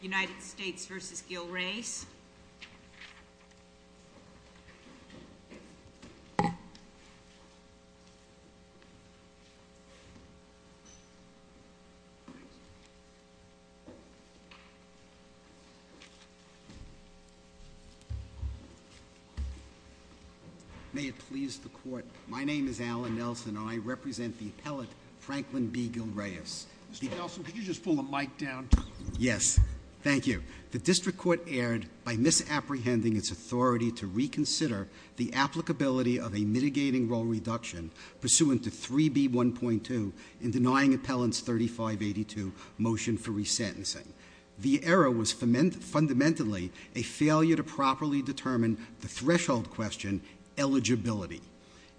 United States v. Gil Reyes May it please the court, my name is Alan Nelson and I represent the appellate Franklin B. Gil Reyes Mr. Nelson, could you just pull the mic down? Yes. Thank you. The district court erred by misapprehending its authority to reconsider the applicability of a mitigating role reduction pursuant to 3B.1.2 in denying appellants 3582 motion for resentencing. The error was fundamentally a failure to properly determine the threshold question, eligibility.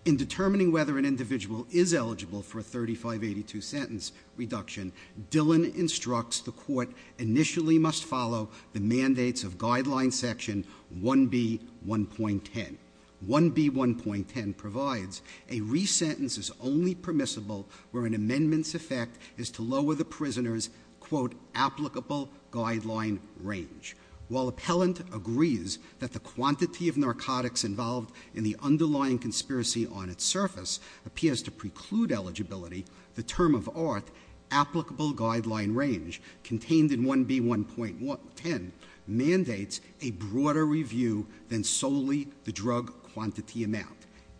In determining whether an individual is eligible for a 3582 sentence reduction, Dillon instructs the court initially must follow the mandates of guideline section 1B.1.10. 1B.1.10 provides a resentence is only permissible where an amendment's effect is to lower the prisoner's quote, applicable guideline range. While appellant agrees that the quantity of narcotics involved in the underlying conspiracy on its surface appears to preclude eligibility, the term of art, applicable guideline range, contained in 1B.1.10 mandates a broader review than solely the drug quantity amount.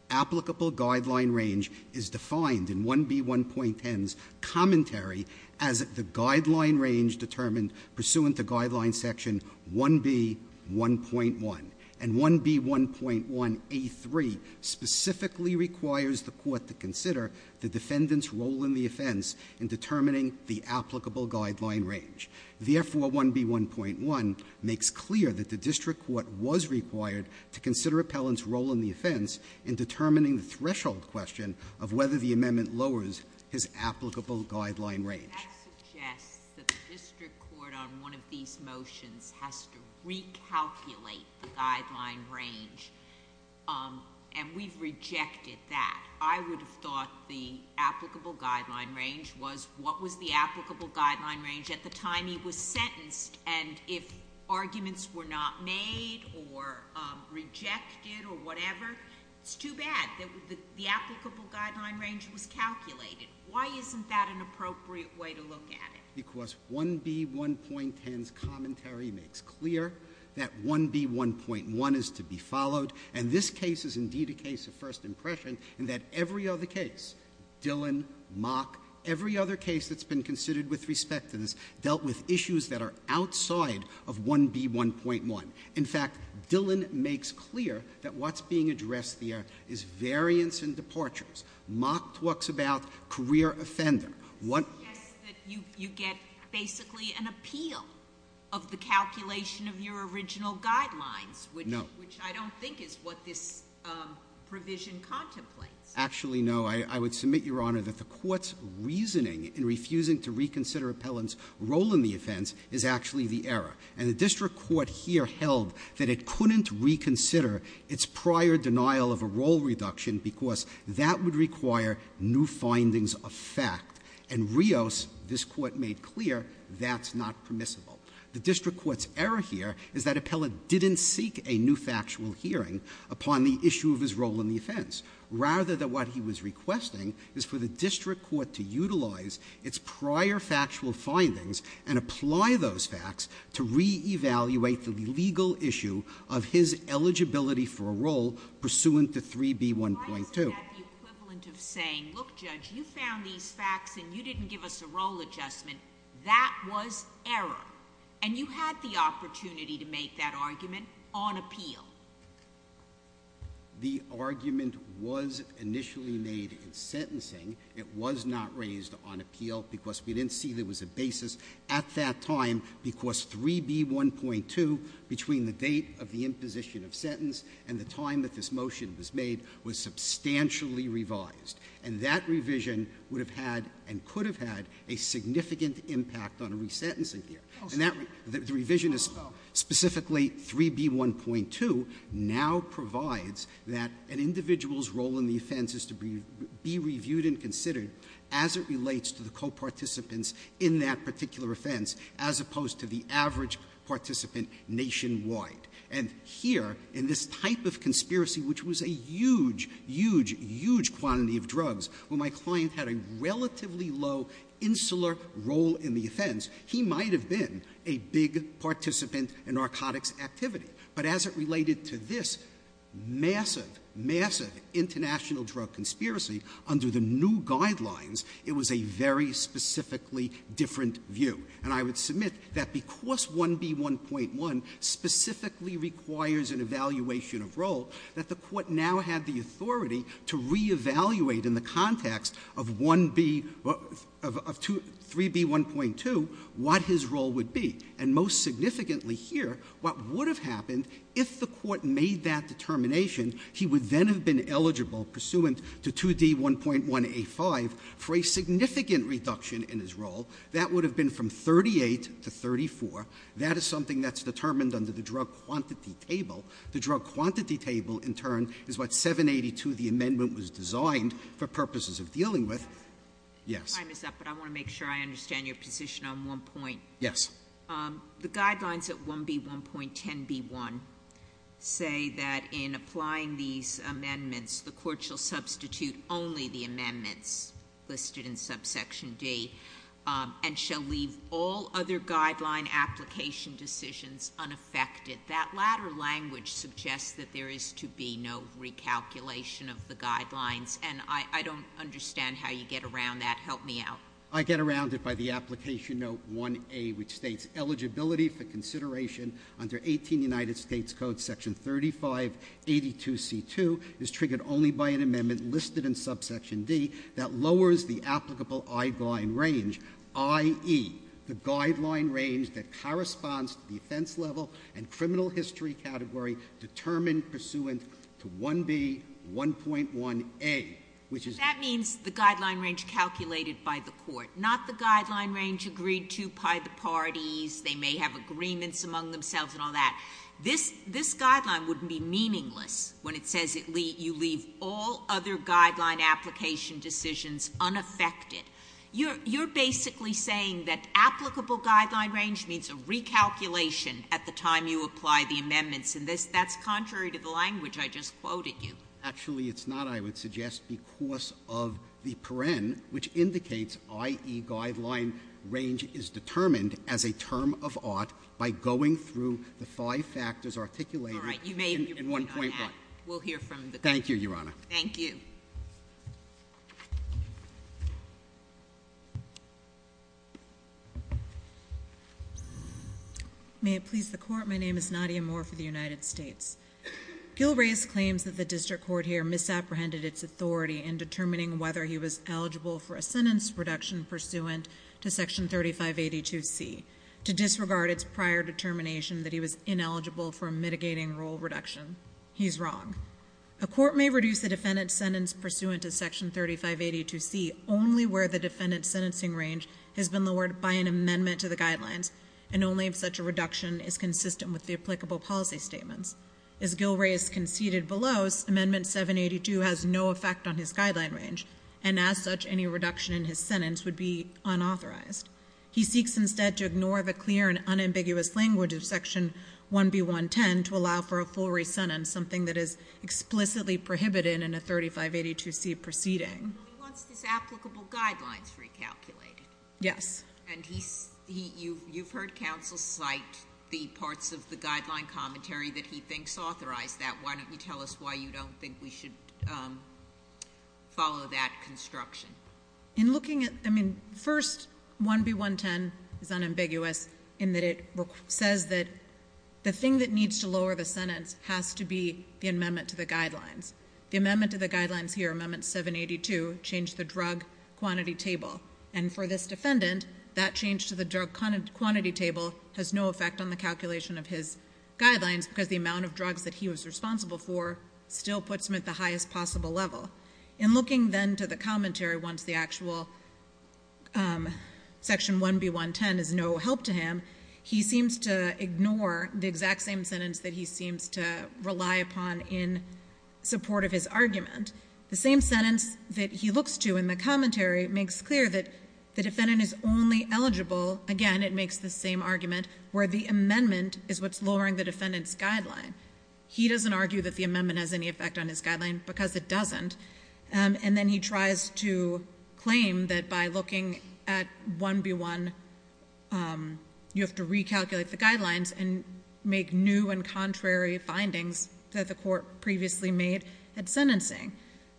Applicable guideline range is defined in 1B.1.10's commentary as the guideline range determined pursuant to guideline section 1B.1.1. And 1B.1.1A3 specifically requires the court to consider the defendant's role in the offense in determining the applicable guideline range. The F41B1.1 makes clear that the district court was required to consider appellant's role in the offense in determining the threshold question of whether the amendment lowers his applicable guideline range. That suggests that the district court on one of these motions has to recalculate the guideline range. And we've rejected that. I would have thought the applicable guideline range was, what was the applicable guideline range at the time he was sentenced? And if arguments were not made or rejected or whatever, it's too bad. The applicable guideline range was calculated. Why isn't that an appropriate way to look at it? Because 1B.1.10's commentary makes clear that 1B.1.1 is to be followed. And this case is indeed a case of first impression in that every other case, Dillon, Mock, every other case that's been considered with respect to this, dealt with issues that are outside of 1B.1.1. In fact, Dillon makes clear that what's being addressed there is variance in departures. Mock talks about career offender. What- You get basically an appeal of the calculation of your original guidelines. No. Which I don't think is what this provision contemplates. Actually, no. I would submit, Your Honor, that the court's reasoning in refusing to reconsider Appellant's role in the offense is actually the error. And the district court here held that it couldn't reconsider its prior denial of a role reduction because that would require new findings of fact. And Rios, this court made clear, that's not permissible. The district court's error here is that Appellant didn't seek a new factual hearing upon the issue of his role in the offense. Rather, that what he was requesting is for the district court to utilize its prior factual findings and apply those facts to re-evaluate the legal issue of his eligibility for a role pursuant to 3B.1.2. Why isn't that the equivalent of saying, Look, Judge, you found these facts and you didn't give us a role adjustment. That was error. And you had the opportunity to make that argument on appeal. The argument was initially made in sentencing. It was not raised on appeal because we didn't see there was a basis at that time because 3B.1.2, between the date of the imposition of sentence and the time that this motion was made, was substantially revised. And that revision would have had and could have had a significant impact on resentencing here. And that revision, specifically 3B.1.2, now provides that an individual's role in the offense is to be reviewed and considered as it relates to the co-participants in that particular offense, as opposed to the average participant nationwide. And here, in this type of conspiracy, which was a huge, huge, huge quantity of drugs, where my client had a relatively low insular role in the offense, he might have been a big participant in narcotics activity. But as it related to this massive, massive international drug conspiracy, under the new guidelines, it was a very specifically different view. And I would submit that because 1B.1.1 specifically requires an evaluation of role, that the court now had the authority to reevaluate in the context of 3B.1.2 what his role would be. And most significantly here, what would have happened if the court made that determination, he would then have been eligible, pursuant to 2D.1.1A.5, for a significant reduction in his role. That would have been from 38 to 34. That is something that's determined under the drug quantity table. The drug quantity table, in turn, is what 782, the amendment was designed for purposes of dealing with. Yes. Time is up, but I want to make sure I understand your position on one point. Yes. The guidelines at 1B.1.10B.1 say that in applying these amendments, the court shall substitute only the amendments listed in subsection D, and shall leave all other guideline application decisions unaffected. That latter language suggests that there is to be no recalculation of the guidelines, and I don't understand how you get around that. Help me out. I get around it by the application note 1A, which states, eligibility for consideration under 18 United States Code Section 3582C2 is triggered only by an amendment listed in subsection D that lowers the applicable eyeguide range, i.e., the guideline range that corresponds to the offense level and criminal history category determined pursuant to 1B.1.1A. That means the guideline range calculated by the court. Not the guideline range agreed to by the parties. They may have agreements among themselves and all that. This guideline would be meaningless when it says you leave all other guideline application decisions unaffected. You're basically saying that applicable guideline range means a recalculation at the time you apply the amendments. And that's contrary to the language I just quoted you. Actually, it's not, I would suggest, because of the paren, which indicates, i.e., guideline range is determined as a term of art by going through the five factors articulated in 1.1. All right. You may be free to go ahead. We'll hear from the court. Thank you, Your Honor. Thank you. Thank you. May it please the court, my name is Nadia Moore for the United States. Gil Reyes claims that the district court here misapprehended its authority in determining whether he was eligible for a sentence reduction pursuant to Section 3582C to disregard its prior determination that he was ineligible for a mitigating rule reduction. He's wrong. A court may reduce a defendant's sentence pursuant to Section 3582C only where the defendant's sentencing range has been lowered by an amendment to the guidelines and only if such a reduction is consistent with the applicable policy statements. As Gil Reyes conceded below, Amendment 782 has no effect on his guideline range and as such any reduction in his sentence would be unauthorized. He seeks instead to ignore the clear and unambiguous language of Section 1B110 to allow for a full re-sentence, something that is explicitly prohibited in a 3582C proceeding. He wants his applicable guidelines recalculated. Yes. And you've heard counsel cite the parts of the guideline commentary that he thinks authorized that. Why don't you tell us why you don't think we should follow that construction? First, 1B110 is unambiguous in that it says that the thing that needs to lower the sentence has to be the amendment to the guidelines. The amendment to the guidelines here, Amendment 782, changed the drug quantity table and for this defendant, that change to the drug quantity table has no effect on the calculation of his guidelines because the amount of drugs that he was responsible for still puts him at the highest possible level. In looking then to the commentary once the actual Section 1B110 is no help to him, he seems to ignore the exact same sentence that he seems to rely upon in support of his argument. The same sentence that he looks to in the commentary makes clear that the defendant is only eligible, again, it makes the same argument, where the amendment is what's lowering the defendant's guideline. He doesn't argue that the amendment has any effect on his guideline because it doesn't. And then he tries to claim that by looking at 1B1, you have to recalculate the guidelines and make new and contrary findings that the court previously made at sentencing.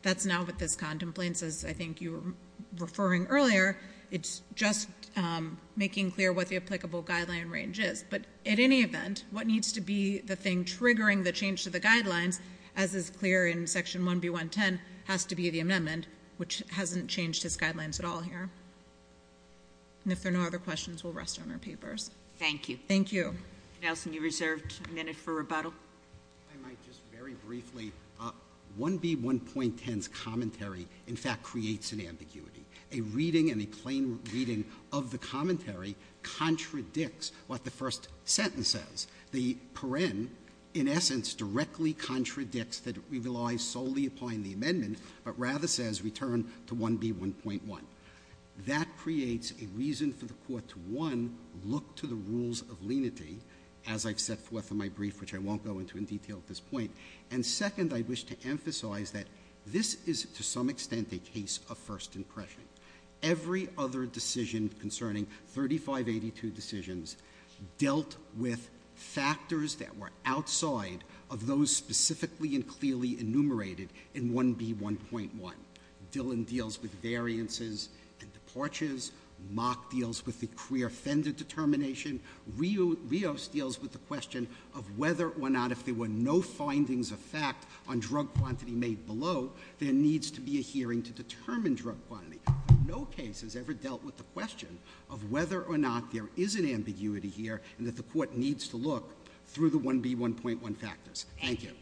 That's not what this contemplates, as I think you were referring earlier. It's just making clear what the applicable guideline range is. But at any event, what needs to be the thing triggering the change to the guidelines, as is clear in Section 1B110, has to be the amendment, which hasn't changed his guidelines at all here. And if there are no other questions, we'll rest on our papers. Thank you. Thank you. Nelson, you reserved a minute for rebuttal. If I might just very briefly, 1B1.10's commentary, in fact, creates an ambiguity. A reading and a plain reading of the commentary contradicts what the first sentence says. The paren, in essence, directly contradicts that it relies solely upon the amendment, but rather says return to 1B1.1. That creates a reason for the Court to, one, look to the rules of lenity, as I've set forth in my brief, which I won't go into in detail at this point, and, second, I wish to emphasize that this is, to some extent, a case of first impression. Every other decision concerning 3582 decisions dealt with factors that were outside of those specifically and clearly enumerated in 1B1.1. Dillon deals with variances and departures. Mock deals with the career offender determination. Rios deals with the question of whether or not, if there were no findings of fact on drug quantity made below, there needs to be a hearing to determine drug quantity. No case has ever dealt with the question of whether or not there is an ambiguity here and that the Court needs to look through the 1B1.1 factors. Thank you.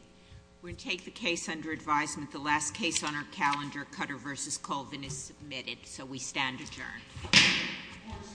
We'll take the case under advisement. The last case on our calendar, Cutter v. Colvin, is submitted. So we stand adjourned. Court is adjourned.